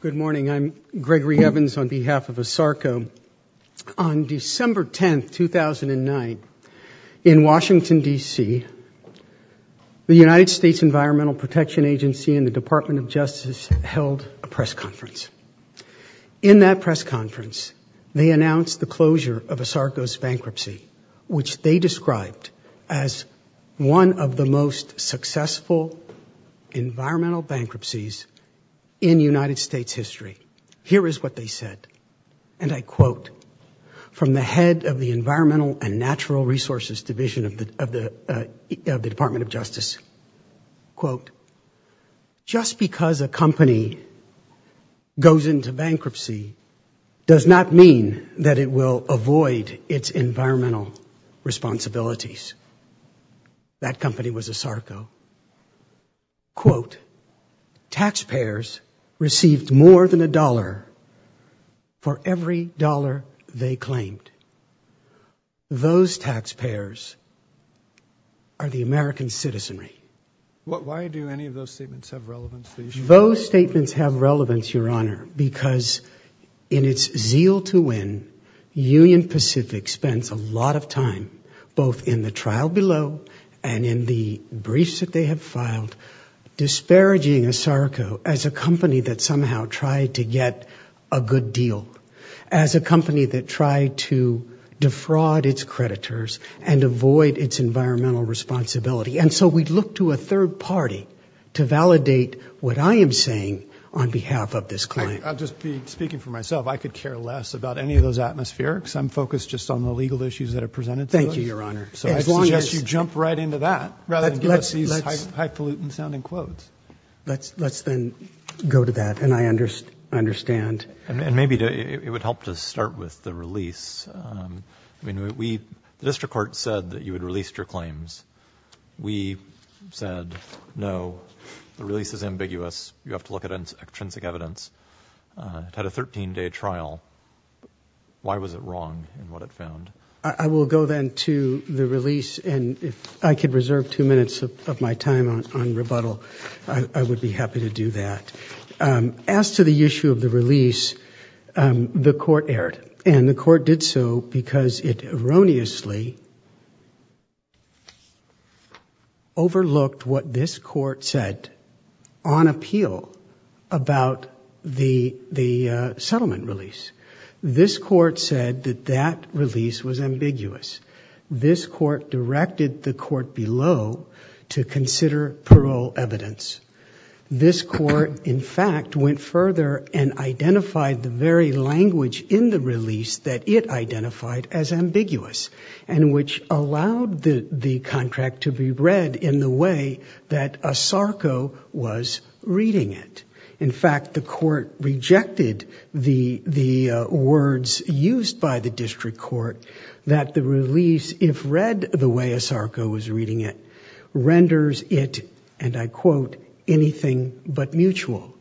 Good morning. I'm Gregory Evans on behalf of ASARCO. On December 10th, 2009 in Washington, DC, the United States Environmental Protection Agency and the Department of Justice held a press conference. In that press conference, they announced the closure of ASARCO's bankruptcy, which they described as one of the most successful environmental bankruptcies in United States history. Here is what they said. And I quote, from the head of the Environmental and Natural Resources Division of the Department of Justice, quote, just because a company goes into bankruptcy does not mean that it will avoid its environmental responsibilities. That company was ASARCO. Quote, taxpayers received more than a dollar for every dollar they claimed. Those taxpayers are the American citizenry. Why do any of those statements have relevance? Those statements have relevance, Your Honor, because in its zeal to win, Union Pacific spends a lot of time both in the trial below and in the briefs that they have filed, disparaging ASARCO as a company that somehow tried to get a good deal, as a company that tried to defraud its creditors and avoid its environmental responsibility. And so we'd look to a third party to validate what I am saying on behalf of this client. I'll just be speaking for myself. I could care less about any of those atmospherics. I'm focused just on the legal issues that are presented to us, Your Honor. So I'd suggest you jump right into that rather than give us these highfalutin sounding quotes. Let's then go to that. And I understand. And maybe it would help to start with the release. I mean, the district court said that you had released your claims. We said, no, the release is ambiguous. You have to look at intrinsic evidence. It had a 13-day trial. Why was it wrong in what it found? I will go then to the release. And if I could reserve two minutes of my time on rebuttal, I would be happy to do that. As to the issue of the release, the court erred. And the court did so because it erroneously overlooked what this court said on appeal about the settlement release. This court said that that release was ambiguous. This court directed the court below to consider parole evidence. This court, in fact, went further and identified the very language in the release that it identified as ambiguous and which allowed the contract to be read in the way that ASARCO was reading it. In fact, the court rejected the words used by the district court that the release, if read the way ASARCO was reading it, renders it, and I quote, anything but mutual.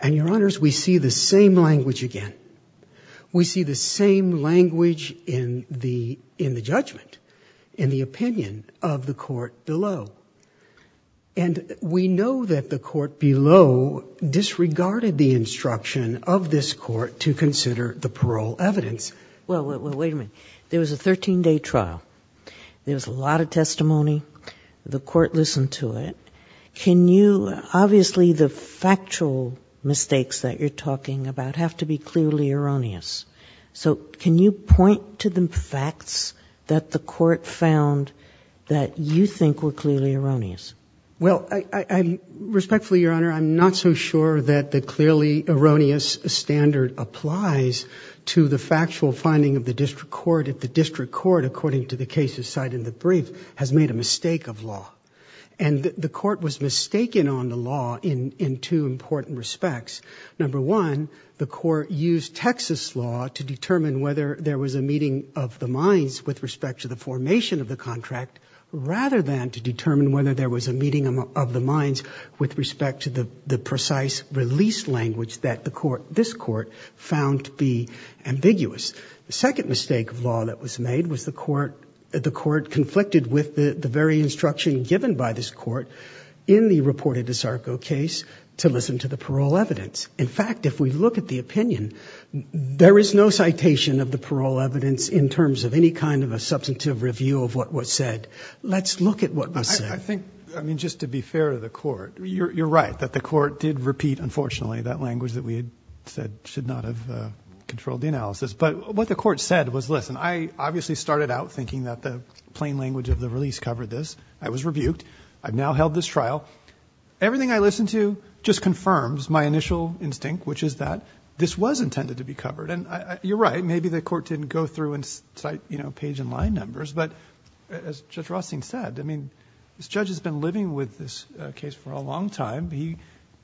And Your Honors, we see the same language again. We see the same language in the judgment, in the opinion of the court below. And we know that the court below disregarded the instruction of this court to consider the parole evidence. Well, wait a minute. There was a 13-day trial. There was a lot of testimony. The court listened to it. Can you, obviously the factual mistakes that you're talking about have to be clearly erroneous. So can you point to the facts that the court found that you think were clearly erroneous? Well, I, respectfully, Your Honor, I'm not so sure that the clearly erroneous standard applies to the factual finding of the district court if the district court, according to the cases cited in the brief, has made a mistake of law. And the court was mistaken on the law in two important respects. Number one, the court used Texas law to determine whether there was a meeting of the minds with respect to the precise release language that the court, this court, found to be ambiguous. The second mistake of law that was made was the court, the court conflicted with the very instruction given by this court in the reported DeSarco case to listen to the parole evidence. In fact, if we look at the opinion, there is no citation of the parole evidence in terms of any kind of a substantive review of what was said. Let's look at what was said. I think, I mean, just to be fair to the court, you're right that the court did repeat, unfortunately, that language that we had said should not have controlled the analysis. But what the court said was, listen, I obviously started out thinking that the plain language of the release covered this. I was rebuked. I've now held this trial. Everything I listened to just confirms my initial instinct, which is that this was intended to be covered. And you're right. Maybe the court didn't go through and cite, you know, page and line numbers. But as Judge Rothstein said, I mean, this judge has been living with this case for a long time. He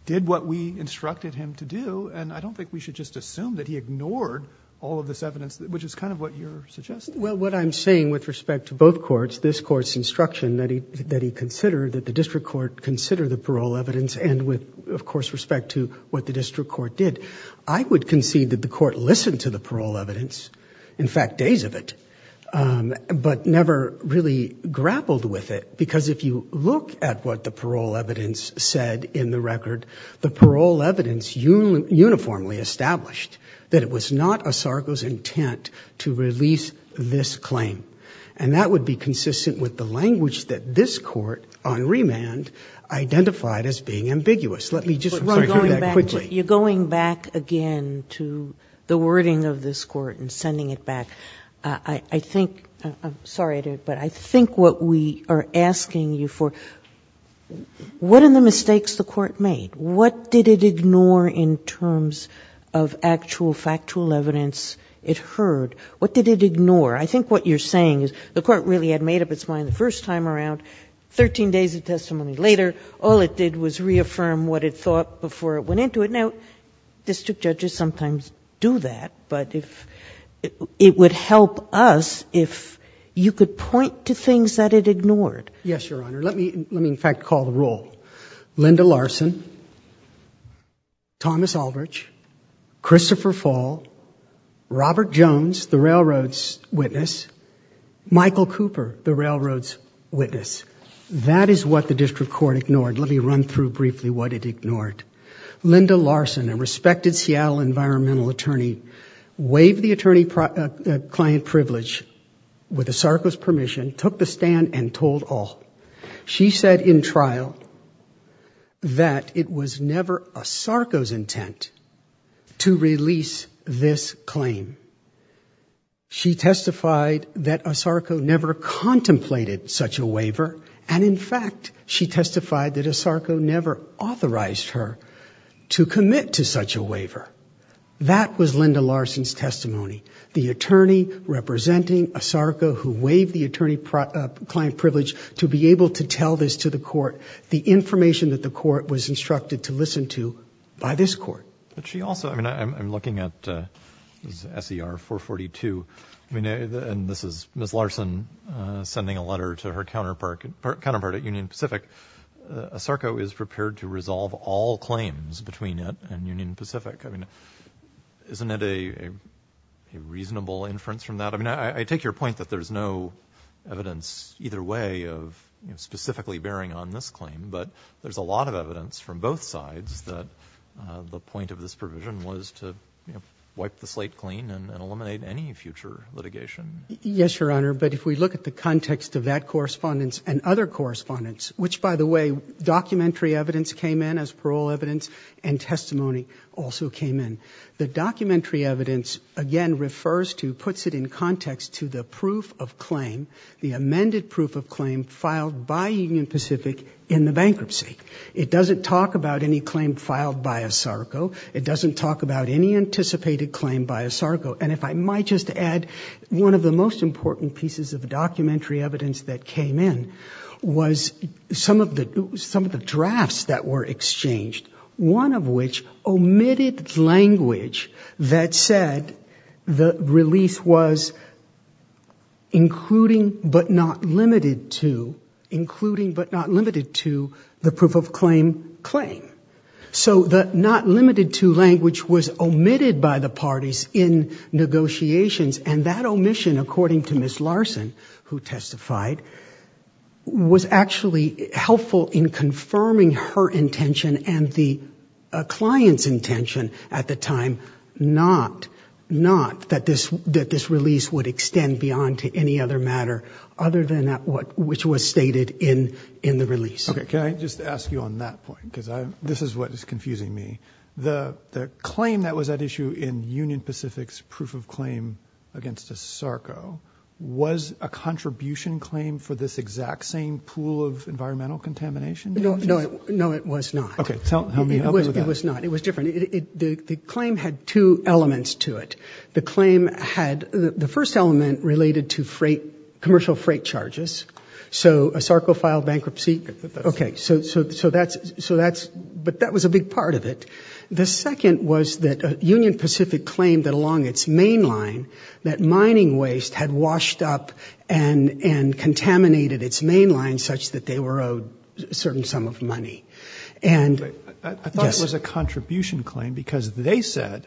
did what we instructed him to do. And I don't think we should just assume that he ignored all of this evidence, which is kind of what you're suggesting. Well, what I'm saying with respect to both courts, this court's instruction that he considered, that the district court consider the parole evidence. And with, of course, respect to what the district court did, I would concede that the court listened to the parole evidence. In fact, days of it. But never really grappled with it. Because if you look at what the parole evidence said in the record, the parole evidence uniformly established that it was not a Sargo's intent to release this claim. And that would be consistent with the language that this court on remand identified as being ambiguous. Let me just, I'm sorry, go back quickly. You're going back again to the wording of this court and sending it back. I think, I'm sorry, but I think what we are asking you for, what are the mistakes the court made? What did it ignore in terms of actual factual evidence it heard? What did it ignore? I think what you're saying is the court really had made up its mind the first time around, 13 days of testimony later, all it did was reaffirm what it thought before it went into it. District judges sometimes do that, but if it would help us, if you could point to things that it ignored. Yes, Your Honor. Let me, let me in fact call the roll. Linda Larson, Thomas Aldrich, Christopher Fall, Robert Jones, the railroad's witness, Michael Cooper, the railroad's witness. That is what the district court ignored. Let me run through briefly what it ignored. Linda Larson, a respected Seattle environmental attorney, waived the attorney client privilege with ASARCO's permission, took the stand and told all. She said in trial that it was never ASARCO's intent to release this claim. She testified that ASARCO never contemplated such a waiver. And in fact, she testified that ASARCO never authorized her to commit to such a waiver. That was Linda Larson's testimony. The attorney representing ASARCO who waived the attorney client privilege to be able to tell this to the court, the information that the court was instructed to listen to by this court. But she also, I mean, I'm looking at SER 442, I mean, and this is Ms. Larson sending a letter to her counterpart at Union Pacific, ASARCO is prepared to resolve all claims between it and Union Pacific. I mean, isn't it a reasonable inference from that? I mean, I take your point that there's no evidence either way of specifically bearing on this claim, but there's a lot of evidence from both sides that the point of this provision was to wipe the slate clean and eliminate any future litigation. Yes, Your Honor. But if we look at the context of that correspondence and other correspondence, which by the way, documentary evidence came in as parole evidence and testimony also came in. The documentary evidence again, refers to, puts it in context to the proof of claim, the amended proof of claim filed by Union Pacific in the bankruptcy. It doesn't talk about any claim filed by ASARCO. It doesn't talk about any anticipated claim by ASARCO. And if I might just add one of the most important pieces of the documentary evidence that came in was some of the, some of the drafts that were exchanged. One of which omitted language that said the release was including, but not limited to, including, but not limited to the proof of claim claim. So the not limited to language was omitted by the parties in negotiations. And that omission, according to Ms. Larson, who testified, was actually helpful in confirming her intention and the client's intention at the time, not, not that this, that this release would extend beyond to any other matter other than what, which was stated in, in the release. Okay. Can I just ask you on that point? Cause I, this is what is confusing me. The, the claim that was at issue in Union Pacific's proof of claim against ASARCO, was a contribution claim for this exact same pool of environmental contamination? No, no, no, it was not. Okay. Tell me how it was not. It was different. It, it, the claim had two elements to it. The claim had the first element related to freight, commercial freight charges. So ASARCO filed bankruptcy. Okay. So, so, so that's, so that's, but that was a big part of it. The second was that Union Pacific claimed that along its main line, that mining waste had washed up and, and contaminated its main line such that they were owed a certain sum of money. And I thought it was a contribution claim because they said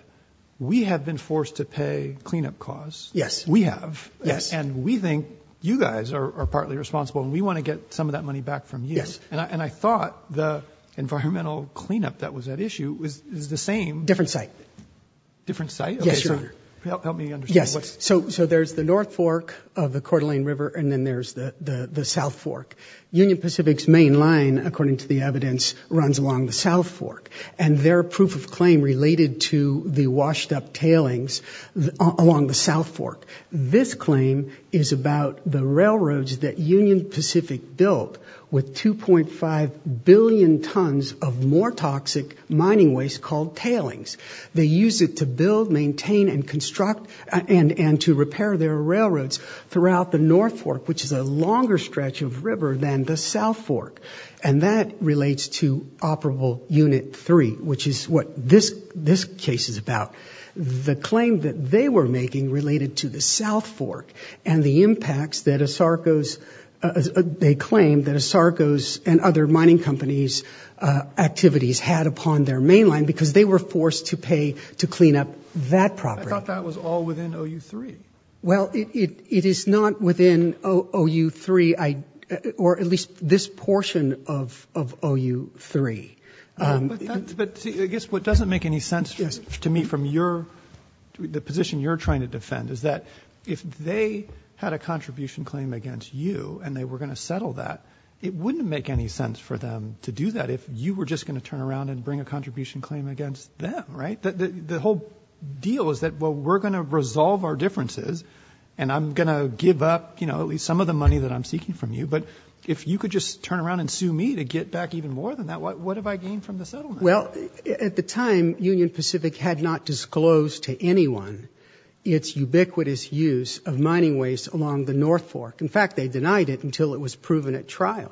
we have been forced to pay cleanup costs. Yes, we have. Yes. And we think you guys are, are partly responsible and we want to get some of that money back from you. Yes. And I, and I thought the environmental cleanup that was at issue was, is the same. Different site. Different site? Yes, Your Honor. Help, help me understand. Yes. So, so there's the North Fork of the Coeur d'Alene River and then there's the, the, the South Fork. Union Pacific's main line, according to the evidence, runs along the South Fork and their proof of claim related to the washed up tailings along the South Fork. This claim is about the railroads that Union Pacific built with 2.5 billion tons of more toxic mining waste called tailings. They use it to build, maintain and construct and, and to repair their railroads throughout the North Fork, which is a longer stretch of river than the South Fork. And that relates to Operable Unit 3, which is what this, this case is about. The claim that they were making related to the South Fork and the impacts that Asarco's, they claim that Asarco's and other mining companies activities had upon their main line because they were forced to pay to clean up that property. I thought that was all within OU3. Well, it, it, it is not within OU3. I, or at least this portion of, of OU3. But I guess what doesn't make any sense to me from your, the position you're trying to defend is that if they had a contribution claim against you and they were going to settle that, it wouldn't make any sense for them to do that. If you were just going to turn around and bring a contribution claim against them, right? That the whole deal is that, well, we're going to resolve our differences and I'm going to give up, you know, at least some of the money that I'm seeking from you. But if you could just turn around and sue me to get back even more than that, what, what have I gained from the settlement? Well, at the time Union Pacific had not disclosed to anyone it's ubiquitous use of mining waste along the North Fork. In fact, they denied it until it was proven at trial.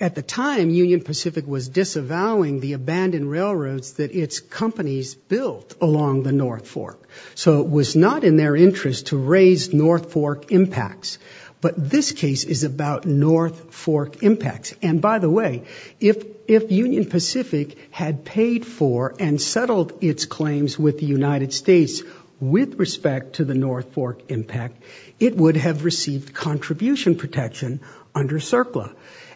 At the time Union Pacific was disavowing the abandoned railroads that it's companies built along the North Fork. So it was not in their interest to raise North Fork impacts. But this case is about North Fork impacts. And by the way, if, if Union Pacific had paid for and settled its claims with the United States with respect to the North Fork impact, it would have received contribution protection under CERCLA.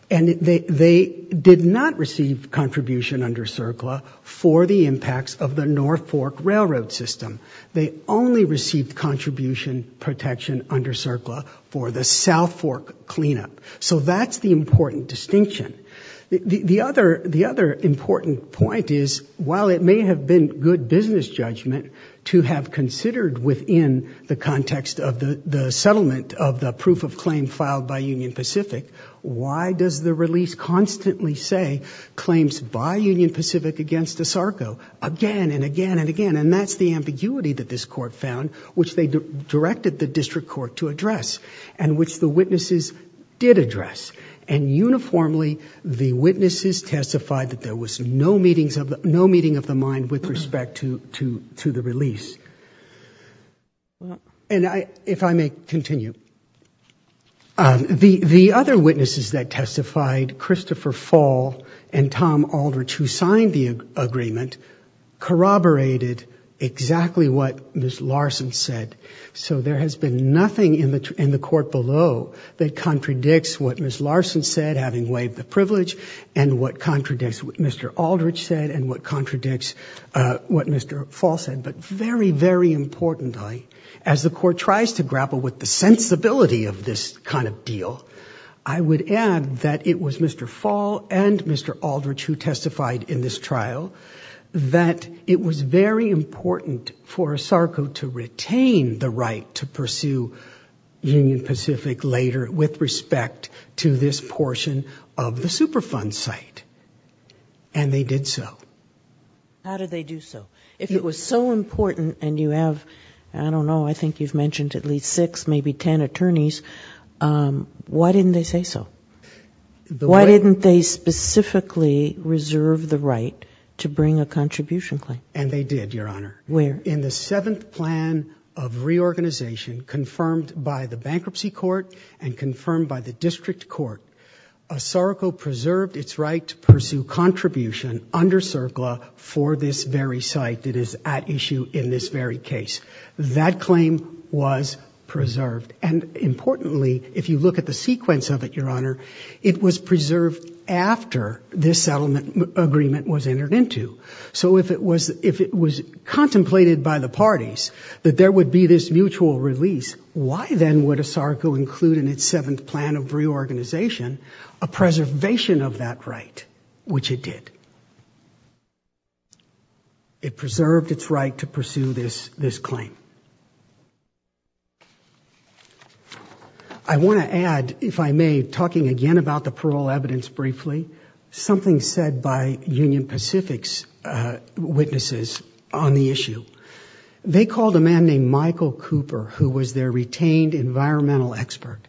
And they, they did not receive contribution under CERCLA for the impacts of the North Fork railroad system. They only received contribution protection under CERCLA for the South Fork cleanup. So that's the important distinction. The other, the other important point is while it may have been good business judgment to have considered within the context of the, the settlement of the proof of claim filed by Union Pacific, why does the release constantly say claims by Union Pacific against the SARCO again and again and again? And that's the ambiguity that this court found, which they directed the district court to address and which the witnesses did address. And uniformly, the witnesses testified that there was no meetings of the, no meeting of the mind with respect to, to, to the release. And I, if I may continue, the, the other witnesses that testified, Christopher Fall and Tom Aldrich, who signed the agreement, corroborated exactly what Ms. Larson said. So there has been nothing in the, in the court below that contradicts what Ms. Larson said, having waived the privilege and what contradicts what Mr. Aldrich said and what contradicts what Mr. Fall said. But very, very importantly, as the court tries to grapple with the sensibility of this kind of deal, I would add that it was Mr. Fall and Mr. Aldrich who testified in this trial that it was very important for a SARCO to retain the right to pursue Union Pacific later with respect to this portion of the Superfund site. And they did so. How did they do so? If it was so important and you have, I don't know, I think you've mentioned at least six, maybe 10 attorneys. Why didn't they say so? Why didn't they specifically reserve the right to bring a contribution claim? And they did, Your Honor. Where? In the seventh plan of reorganization confirmed by the bankruptcy court and confirmed by the district court, a SARCO preserved its right to pursue contribution under CERCLA for this very site that is at issue in this very case. That claim was preserved. And importantly, if you look at the sequence of it, Your Honor, it was preserved after this settlement agreement was entered into. So if it was, if it was contemplated by the parties that there would be this mutual release, why then would a SARCO include in its seventh plan of reorganization a preservation of that right, which it did? It preserved its right to pursue this, this claim. I want to add, if I may, talking again about the parole evidence briefly, something said by Union Pacific's witnesses on the issue. They called a man named Michael Cooper, who was their retained environmental expert.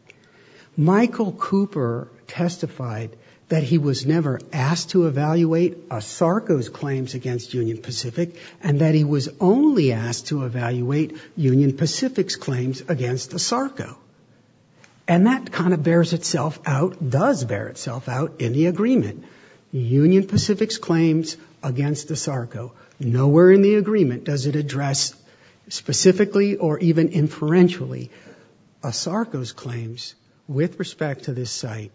Michael Cooper testified that he was never asked to evaluate a SARCO's claims against Union Pacific, and that he was only asked to evaluate Union Pacific's claims against the SARCO. And that kind of bears itself out, does bear itself out in the agreement. Union Pacific's claims against the SARCO. Nowhere in the agreement does it address specifically or even inferentially a SARCO's claims with respect to this site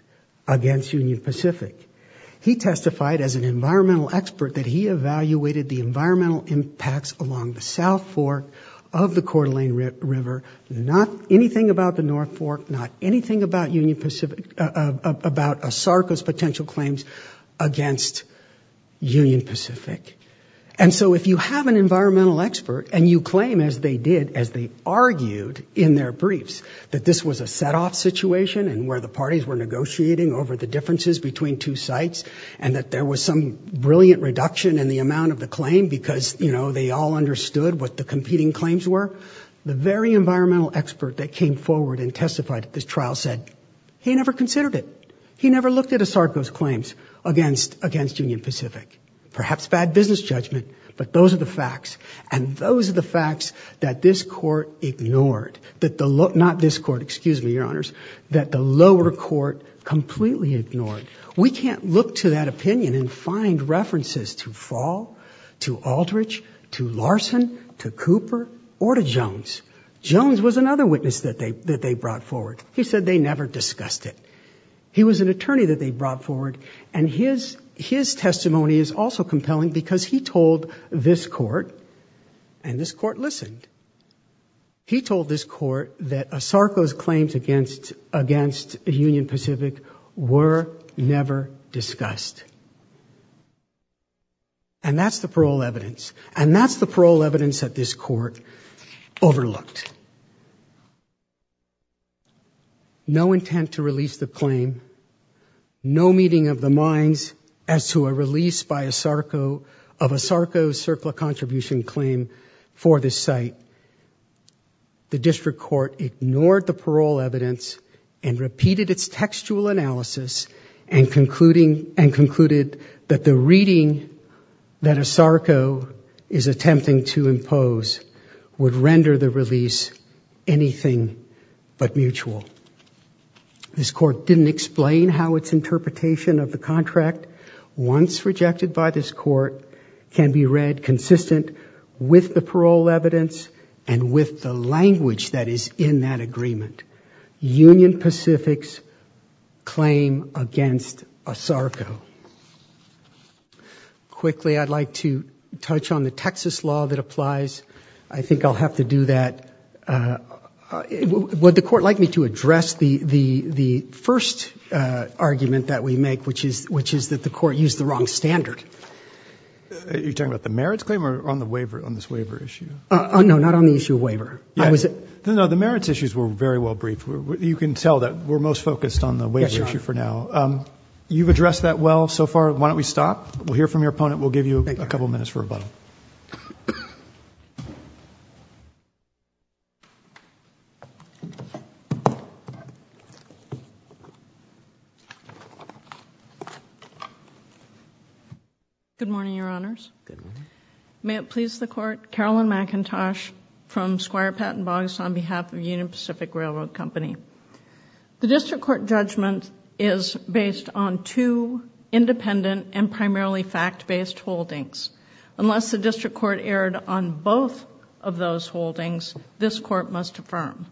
against Union Pacific. He testified as an environmental expert that he evaluated the environmental impacts along the South Fork of the Coeur d'Alene River. Not anything about the North Fork, not anything about Union Pacific, about a SARCO's potential claims against Union Pacific. And so if you have an environmental expert and you claim, as they did, as they argued in their briefs, that this was a set off situation and where the parties were negotiating over the differences between two sites, and that there was some brilliant reduction in the amount of the claim because, you know, they all understood what the competing claims were. The very environmental expert that came forward and testified at this trial said he never considered it. He never looked at a SARCO's claims against, against Union Pacific. Perhaps bad business judgment, but those are the facts. And those are the facts that this court ignored, that the low, not this court, excuse me, your honors, that the lower court completely ignored. We can't look to that opinion and find references to Fall, to Aldrich, to Larson, to Cooper, or to Jones. Jones was another witness that they, that they brought forward. He said they never discussed it. He was an attorney that they brought forward and his, his testimony is also compelling because he told this court, and this court listened, he told this court that a SARCO's claims against, against Union Pacific were never discussed. And that's the parole evidence. And that's the parole evidence that this court overlooked. No intent to release the claim, no meeting of the minds as to a release by a SARCO, of a SARCO's CERCLA contribution claim for this site. The district court ignored the parole evidence and repeated its textual analysis and concluding, and concluded that the reading that a SARCO is anything but mutual. This court didn't explain how its interpretation of the contract once rejected by this court can be read consistent with the parole evidence and with the language that is in that agreement, Union Pacific's claim against a SARCO. Quickly, I'd like to touch on the Texas law that applies. I think I'll have to do that. Would the court like me to address the, the, the first argument that we make, which is, which is that the court used the wrong standard? Are you talking about the merits claim or on the waiver, on this waiver issue? Oh, no, not on the issue of waiver. I was at- No, no, the merits issues were very well briefed. You can tell that we're most focused on the waiver issue for now. You've addressed that well so far. Why don't we stop? We'll hear from your opponent. We'll give you a couple of minutes for rebuttal. Good morning, your honors. May it please the court. Carolyn McIntosh from Squire Patent Boggs on behalf of Union Pacific Railroad Company. The district court judgment is based on two independent and primarily fact-based holdings. Unless the district court erred on both of those holdings, this court must affirm.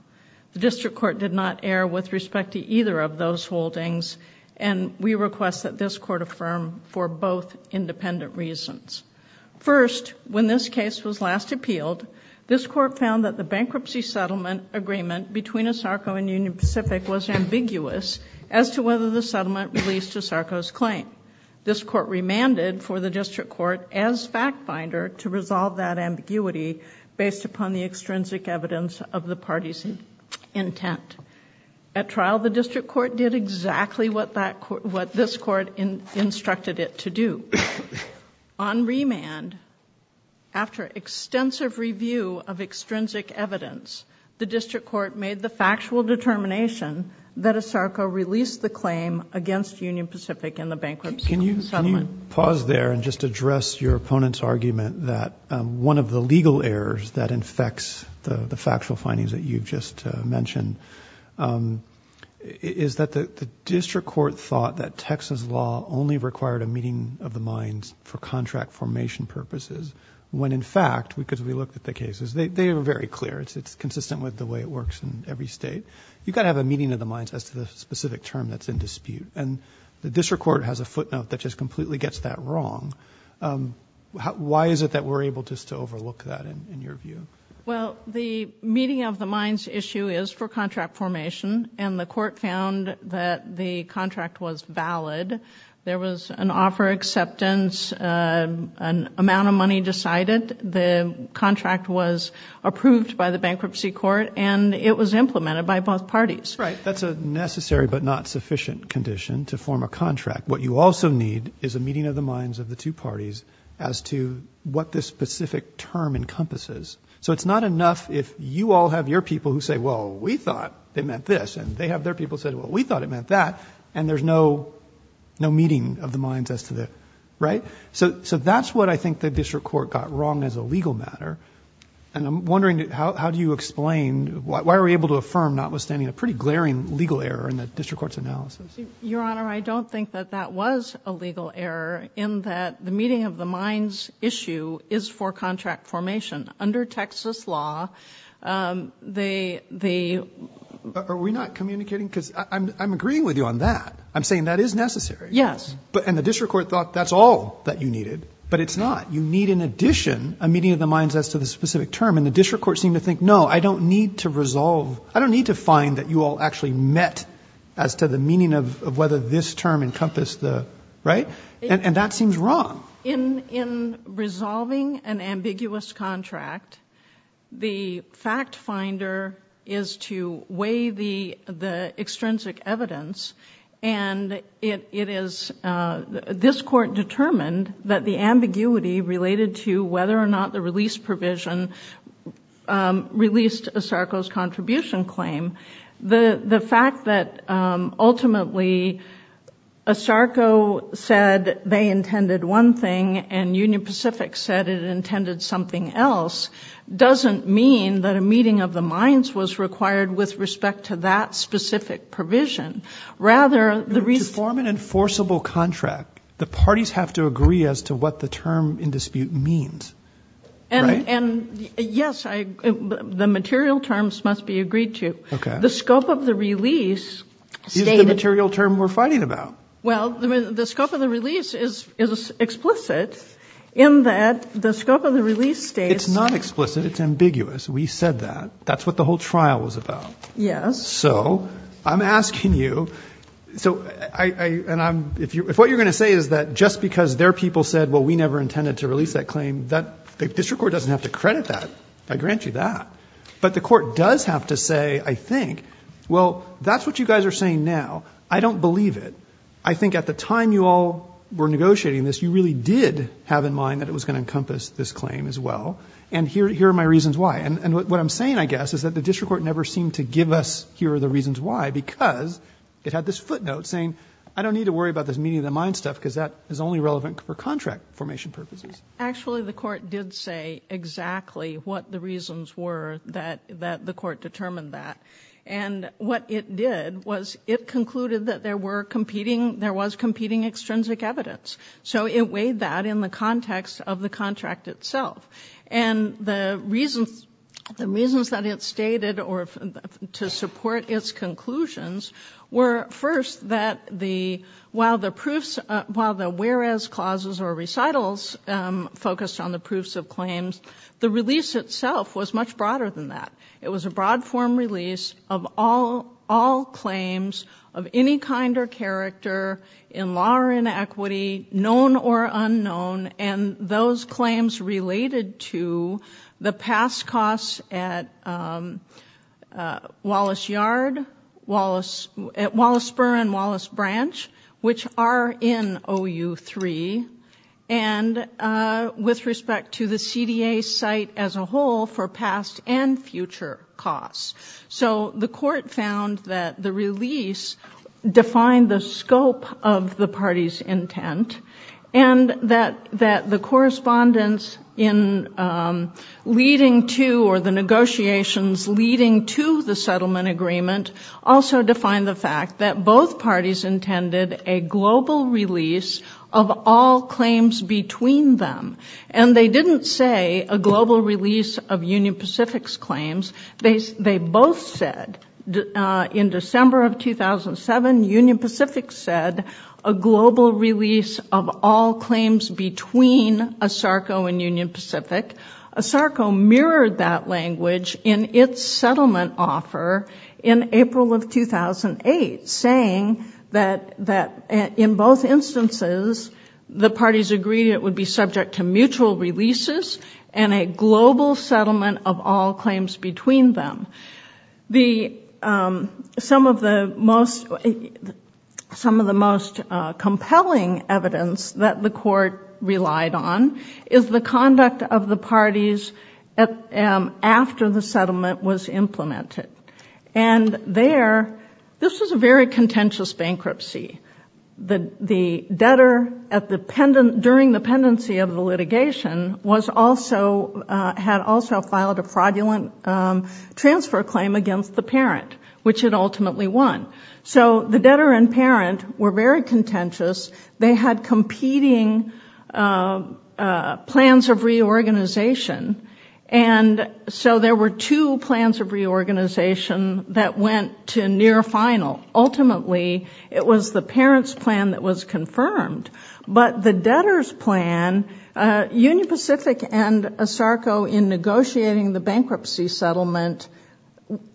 The district court did not err with respect to either of those holdings. And we request that this court affirm for both independent reasons. First, when this case was last appealed, this court found that the bankruptcy settlement agreement between ASARCO and Union Pacific was ambiguous as to whether the settlement released ASARCO's claim. This court remanded for the district court as fact finder to resolve that ambiguity based upon the extrinsic evidence of the party's intent. At trial, the district court did exactly what this court instructed it to do. On remand, after extensive review of extrinsic evidence, the district court made the factual determination that ASARCO released the claim against Union Pacific in the bankruptcy settlement. Can you pause there and just address your opponent's argument that one of the legal errors that infects the factual findings that you've just mentioned is that the district court thought that Texas law only required a meeting of the minds for contract formation purposes, when in fact, because we looked at the cases, they were very clear. It's consistent with the way it works in every state. You've got to have a meeting of the minds as to the specific term that's in dispute. The district court has a footnote that just completely gets that wrong. Why is it that we're able just to overlook that in your view? Well, the meeting of the minds issue is for contract formation and the court found that the contract was valid. There was an offer acceptance, an amount of money decided, the contract was approved by the bankruptcy court and it was implemented by both parties. That's a necessary but not sufficient condition to form a contract. What you also need is a meeting of the minds of the two parties as to what this specific term encompasses. It's not enough if you all have your people who say, well, we thought it meant this and they have their people say, well, we thought it meant that and there's no meeting of the minds as to the... That's what I think the district court got wrong as a legal matter. I'm wondering how do you explain, why are we able to affirm notwithstanding a pretty glaring legal error in the district court's analysis? Your Honor, I don't think that that was a legal error in that the meeting of the minds issue is for contract formation. Under Texas law, they... Are we not communicating? Because I'm agreeing with you on that. I'm saying that is necessary. Yes. And the district court thought that's all that you needed, but it's not. You need in addition a meeting of the minds as to the specific term and the district court seemed to think, no, I don't need to resolve, I don't need to find that you all actually met as to the meaning of, of whether this term encompassed the, right? And that seems wrong. In, in resolving an ambiguous contract, the fact finder is to weigh the, the extrinsic evidence and it, it is, this court determined that the ambiguity related to whether or not the release provision released a Sarko's contribution claim, the, the fact that ultimately a Sarko said they intended one thing and Union Pacific said it intended something else doesn't mean that a meeting of the minds was required with respect to that specific provision. Rather the reason... To form an enforceable contract, the parties have to agree as to what the term in dispute means, right? And yes, I, the material terms must be agreed to. Okay. The scope of the release stated... Is the material term we're fighting about? Well, the scope of the release is, is explicit in that the scope of the release states... It's not explicit. It's ambiguous. We said that, that's what the whole trial was about. Yes. So I'm asking you, so I, I, and I'm, if you, if what you're going to say is that just because their people said, well, we never intended to release that claim, that the district court doesn't have to credit that. I grant you that, but the court does have to say, I think, well, that's what you guys are saying now. I don't believe it. I think at the time you all were negotiating this, you really did have in mind that it was going to encompass this claim as well. And here, here are my reasons why. And what I'm saying, I guess, is that the district court never seemed to give us here are the reasons why, because it had this footnote saying, I don't need to worry about this meeting of the mind stuff because that is only relevant for contract formation purposes. Actually, the court did say exactly what the reasons were that, that the court determined that. And what it did was it concluded that there were competing, there was competing extrinsic evidence. So it weighed that in the context of the contract itself. And the reasons, the reasons that it stated, or to support its conclusions were first that the, while the proofs, while the whereas clauses or recitals focused on the proofs of claims, the release itself was much broader than that. It was a broad form release of all, all claims of any kind or character in law or inequity known or unknown. And those claims related to the past costs at Wallace Yard, Wallace, at Wallace Burr and Wallace Branch, which are in OU3 and with respect to the CDA site as a whole for past and future costs. So the court found that the release defined the scope of the party's intent and that the correspondence in leading to, or the negotiations leading to the settlement agreement also defined the fact that both parties intended a global release of all claims between them. And they didn't say a global release of Union Pacific's claims. They, they both said in December of 2007, Union Pacific said a global release of all claims between ASARCO and Union Pacific, ASARCO mirrored that language in its settlement offer in April of 2008, saying that, that in both instances, the parties agreed it would be subject to mutual releases and a global settlement of all claims between them. The, some of the most, some of the most compelling evidence that the court relied on is the conduct of the parties after the settlement was implemented. And there, this was a very contentious bankruptcy. The debtor at the pendant, during the pendency of the litigation was also, had also filed a fraudulent transfer claim against the parent, which it ultimately won. So the debtor and parent were very contentious. They had competing plans of reorganization. And so there were two plans of reorganization that went to near final. Ultimately, it was the parent's plan that was confirmed. But the debtor's plan, Union Pacific and ASARCO in negotiating the bankruptcy settlement,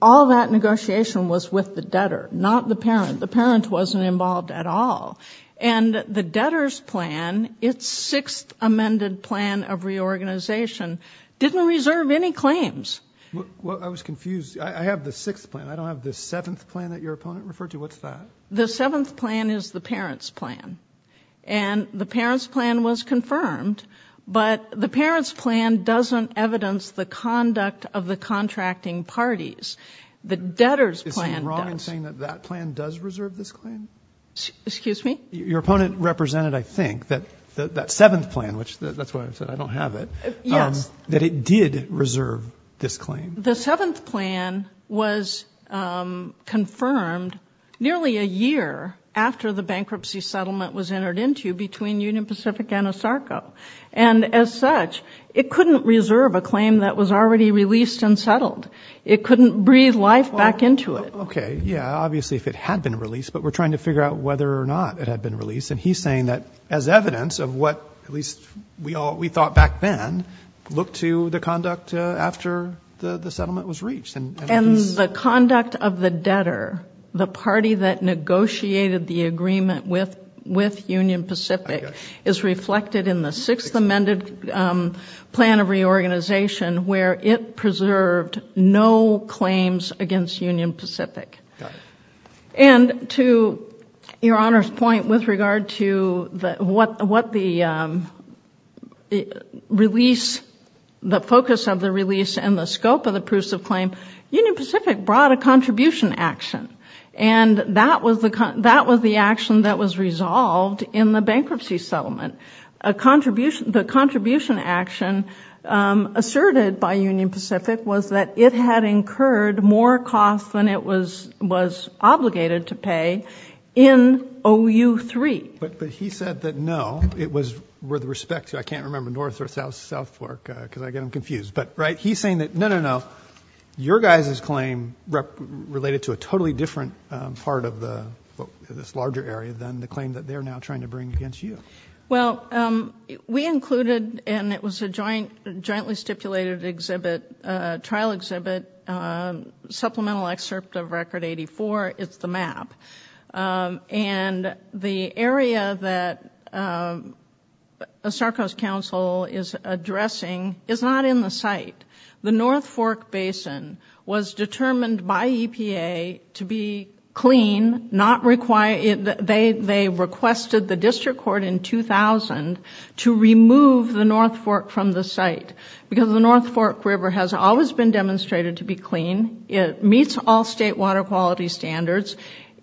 all that negotiation was with the debtor, not the parent. The parent wasn't involved at all. And the debtor's plan, it's sixth amended plan of reorganization, didn't reserve any claims. Well, I was confused. I have the sixth plan. I don't have the seventh plan that your opponent referred to. What's that? The seventh plan is the parent's plan. And the parent's plan was confirmed. But the parent's plan doesn't evidence the conduct of the contracting parties. The debtor's plan. Is he wrong in saying that that plan does reserve this claim? Excuse me? Your opponent represented, I think, that that seventh plan, which that's why I said I don't have it. Yes. That it did reserve this claim. The seventh plan was confirmed nearly a year after the bankruptcy settlement was entered into between Union Pacific and ASARCO. And as such, it couldn't reserve a claim that was already released and settled. It couldn't breathe life back into it. OK, yeah. Obviously, if it had been released, but we're trying to figure out whether or not it had been released. And he's saying that as evidence of what at least we all we thought back then look to the conduct after the settlement was reached. And the conduct of the debtor, the party that negotiated the agreement with Union Pacific, is reflected in the sixth amended plan of reorganization where it preserved no claims against Union Pacific. And to your Honor's point with regard to what the focus of the release and the scope of the proofs of claim, Union Pacific brought a contribution action. And that was the action that was resolved in the bankruptcy settlement. The contribution action asserted by Union Pacific was that it had incurred more costs than it was was obligated to pay in OU3. But he said that, no, it was with respect to, I can't remember North or South work because I get them confused. But right. He's saying that, no, no, no. Your guys' claim related to a totally different part of this larger area than the claim that they're now trying to bring against you. Well, we included, and it was a jointly stipulated exhibit, trial exhibit, supplemental excerpt of record 84. It's the map. And the area that the Starcoast Council is addressing is not in the site. The North Fork Basin was determined by EPA to be clean, not require, they requested the district court in 2000 to remove the North Fork from the site because the North Fork was determined to be clean. It meets all state water quality standards.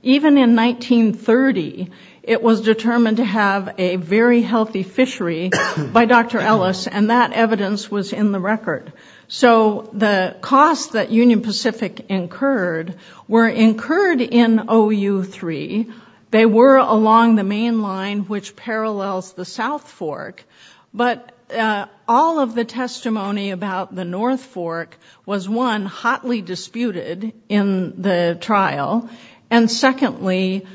Even in 1930, it was determined to have a very healthy fishery by Dr. Ellis, and that evidence was in the record. So the costs that Union Pacific incurred were incurred in OU3. They were along the main line, which parallels the South Fork. But all of the testimony about the North Fork was, one, hotly disputed in the trial. And secondly,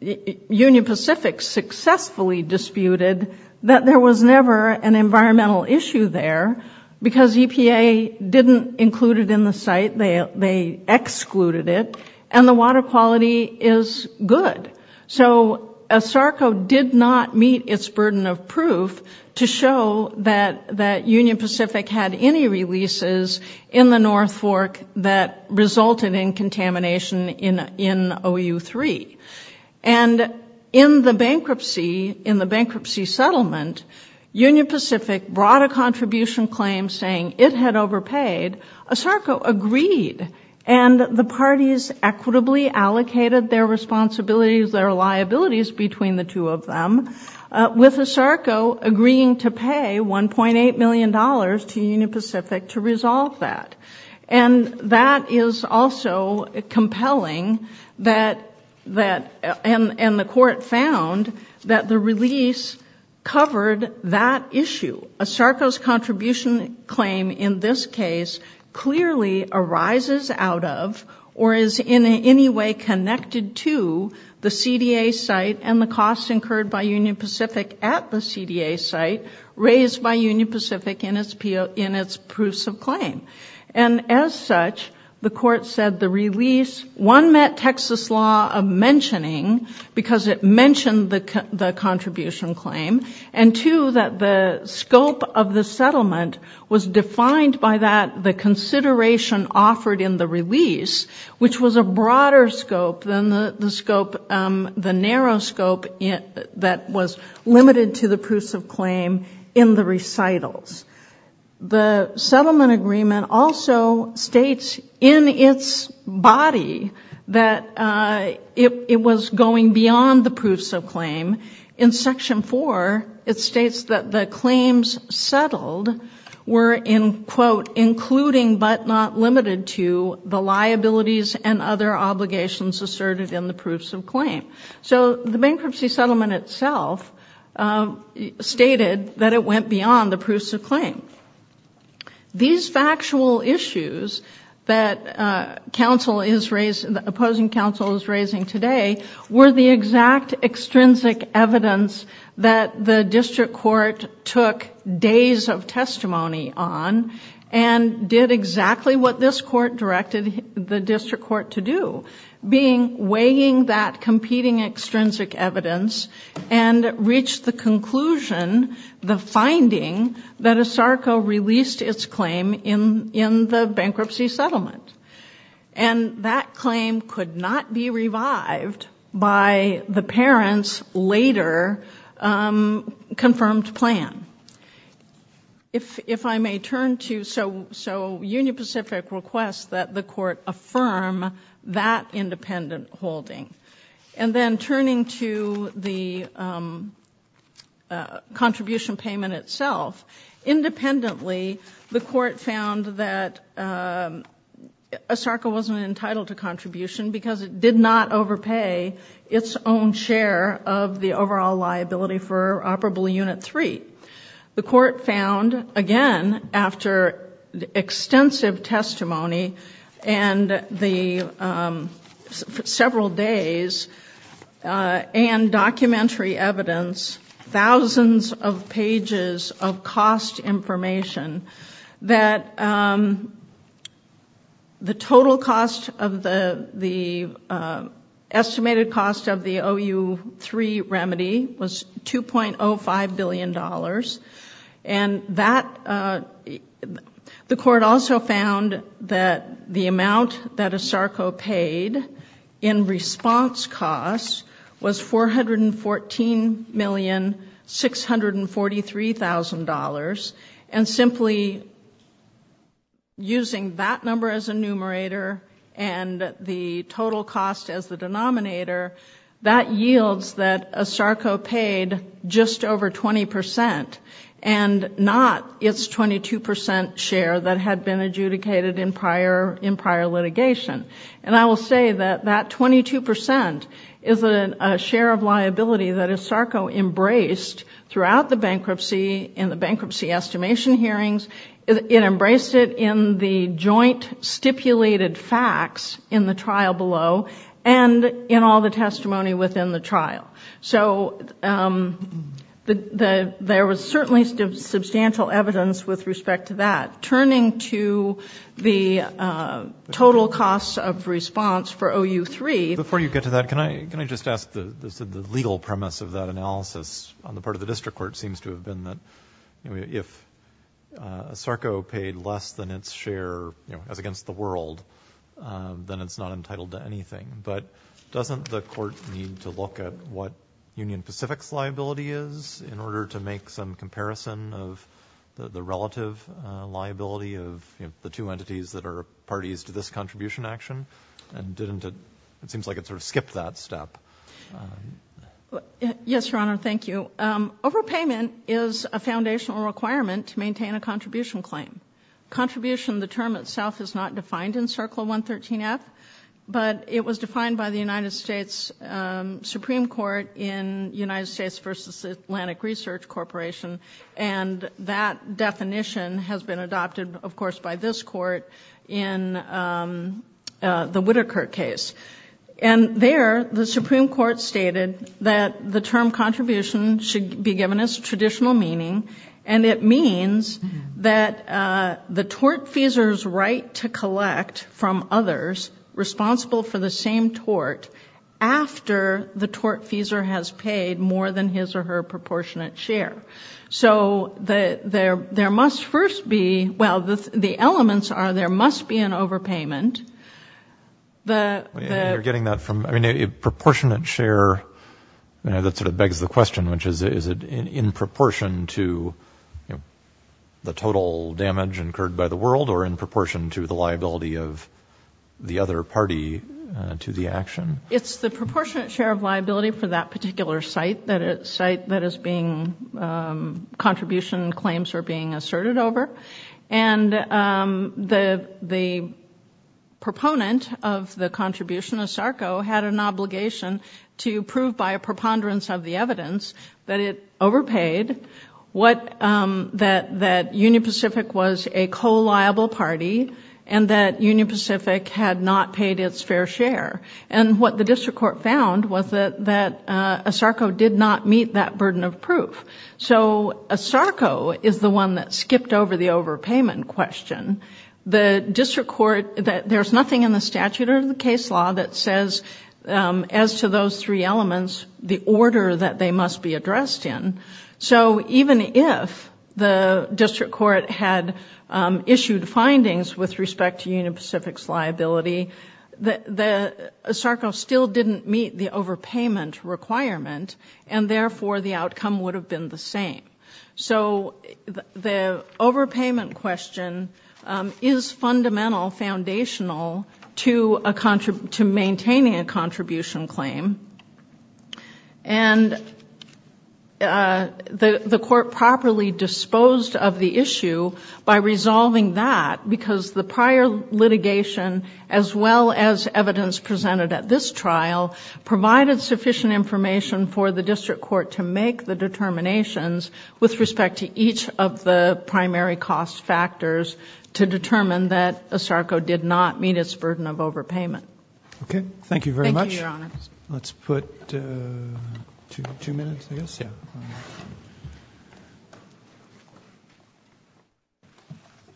Union Pacific successfully disputed that there was never an environmental issue there because EPA didn't include it in the site. They excluded it. And the water quality is good. So a Starco did not meet its burden of proof to show that Union Pacific had any releases in the North Fork that resulted in contamination in OU3. And in the bankruptcy settlement, Union Pacific brought a contribution claim saying it had overpaid. A Starco agreed, and the parties equitably allocated their responsibilities, their liabilities between the two of them, with a Starco agreeing to pay $1.8 million to Union Pacific to resolve that. And that is also compelling, and the court found that the release covered that issue. A Starco's contribution claim in this case clearly arises out of, or is in any way connected to, the CDA site and the costs incurred by Union Pacific at the CDA site raised by Union Pacific in its proofs of claim. And as such, the court said the release, one, met Texas law of mentioning because it mentioned the contribution claim, and two, that the scope of the settlement was defined by that, the consideration offered in the release, which was a broader scope than the narrow scope that was limited to the proofs of claim in the recitals. The settlement agreement also states in its body that it was going beyond the proofs of claim. In section four, it states that the claims settled were in quote, including but not limited to the liabilities and other obligations asserted in the proofs of claim. So the bankruptcy settlement itself stated that it went beyond the proofs of claim. These factual issues that opposing counsel is raising today were the exact extrinsic evidence that the district court took days of testimony on and did exactly what this court directed the district court to do, being weighing that competing extrinsic evidence and reach the conclusion, the finding that ASARCO released its claim in the bankruptcy settlement. And that claim could not be revived by the parents' later confirmed plan. If I may turn to, so Union Pacific requests that the court affirm that independent holding, and then turning to the contribution payment itself, independently, the court found that ASARCO wasn't entitled to contribution because it did not overpay its own share of the overall liability for operable unit three. The court found again, after extensive testimony and the several days and documentary evidence, thousands of pages of cost information, that the total cost of the estimated cost of the OU3 remedy was $2.05 billion. And the court also found that the amount that ASARCO paid in response costs was $414,643,000 and simply using that number as a numerator and the total cost as the denominator, that yields that ASARCO paid just over 20% and not its 22% share that had been adjudicated in prior litigation. And I will say that that 22% is a share of liability that ASARCO embraced throughout the bankruptcy in the bankruptcy estimation hearings. It embraced it in the joint stipulated facts in the trial below and in all the testimony within the trial. So there was certainly substantial evidence with respect to that. Turning to the total costs of response for OU3. Before you get to that, can I just ask the legal premise of that analysis on the part of the district court seems to have been that if ASARCO paid less than its share as against the world, then it's not entitled to anything, but doesn't the court need to look at what Union Pacific's liability is in order to make some comparison of the liability of the two entities that are parties to this contribution action? And didn't it, it seems like it sort of skipped that step. Yes, Your Honor. Thank you. Overpayment is a foundational requirement to maintain a contribution claim. Contribution, the term itself is not defined in Circle 113F, but it was defined by the United States Supreme Court in United States versus Atlantic Research Corporation. And that definition has been adopted, of course, by this court in the Whittaker case. And there the Supreme Court stated that the term contribution should be given as traditional meaning. And it means that the tortfeasor's right to collect from others responsible for the same tort after the tortfeasor has paid more than his or her proportionate share. So there must first be, well, the elements are there must be an overpayment. You're getting that from, I mean, a proportionate share that sort of begs the question, which is, is it in proportion to the total damage incurred by the world or in proportion to the liability of the other party to the action? It's the proportionate share of liability for that particular site that is being contribution claims are being asserted over. And the proponent of the contribution, ASARCO, had an obligation to prove by a preponderance of the evidence that it overpaid, that Union Pacific was a co-liable party, and that Union Pacific had not paid its fair share. And what the district court found was that ASARCO did not meet that burden of proof. So ASARCO is the one that skipped over the overpayment question. The district court, there's nothing in the statute or in the case law that says, as to those three elements, the order that they must be addressed in. So even if the district court had issued findings with respect to Union Pacific's liability, ASARCO still didn't meet the overpayment requirement, and therefore the outcome would have been the same. So the overpayment question is fundamental, foundational to maintaining a contribution claim, and the court properly disposed of the issue by resolving that because the prior litigation, as well as evidence presented at this trial, provided sufficient information for the district court to make the determinations with respect to each of the primary cost factors to determine that ASARCO did not meet its burden of overpayment. Okay. Thank you very much. Let's put two minutes, I guess. Yeah.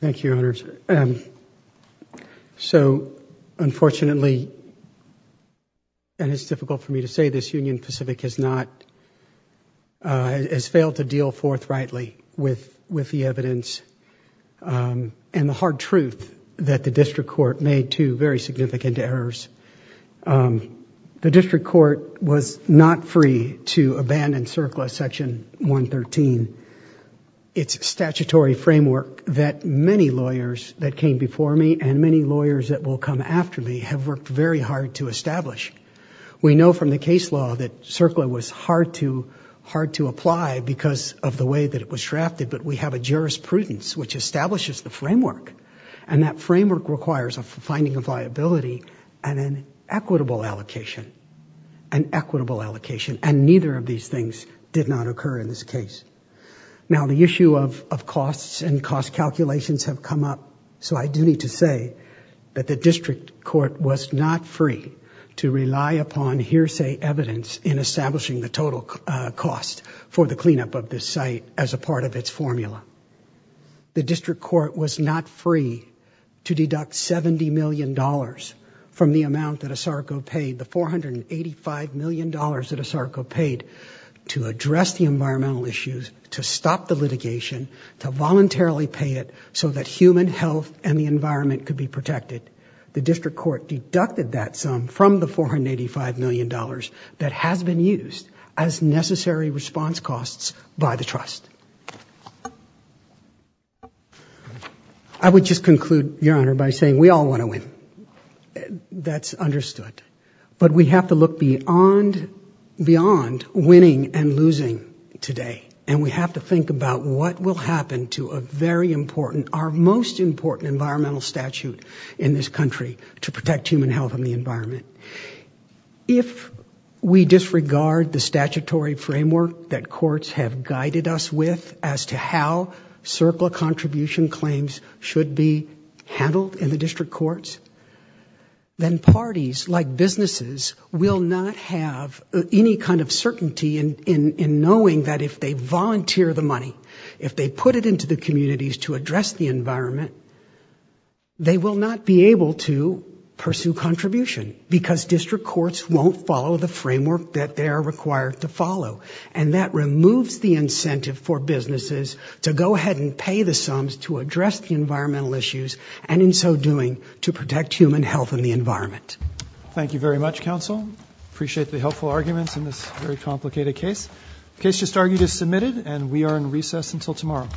Thank you, Your Honors. So unfortunately, and it's difficult for me to say this, Union Pacific has not, has failed to deal forthrightly with the evidence and the hard truth that the district court made two very significant errors. The district court was not free to abandon CERCLA Section 113. It's a statutory framework that many lawyers that came before me and many lawyers that will come after me have worked very hard to establish. We know from the case law that CERCLA was hard to apply because of the way that it was drafted, but we have a jurisprudence which establishes the framework, and that framework requires a finding of liability and an equitable allocation, an equitable allocation. And neither of these things did not occur in this case. Now the issue of costs and cost calculations have come up, so I do need to say that the district court was not free to rely upon hearsay evidence in establishing the total cost for the cleanup of this site as a part of its formula. The district court was not free to deduct $70 million from the amount that ASARCO paid, the $485 million that ASARCO paid to address the environmental issues, to stop the litigation, to voluntarily pay it so that human health and the environment could be protected. The district court deducted that sum from the $485 million that has been used as necessary response costs by the trust. I would just conclude, Your Honor, by saying we all want to win. That's understood, but we have to look beyond winning and losing today. And we have to think about what will happen to a very important, our most important environmental statute in this country to protect human health and the environment. If we disregard the statutory framework that courts have guided us with as to how CERCLA contribution claims should be handled in the district courts, then parties like businesses will not have any kind of certainty in knowing that if they volunteer the money, if they put it into the communities to address the environment, they will not be able to pursue contribution because district courts won't follow the framework that they are required to follow. And that removes the incentive for businesses to go ahead and pay the sums to address the environmental issues and in so doing to protect human health and the environment. Thank you very much, counsel. Appreciate the helpful arguments in this very complicated case. Case just argued is submitted and we are in recess until tomorrow.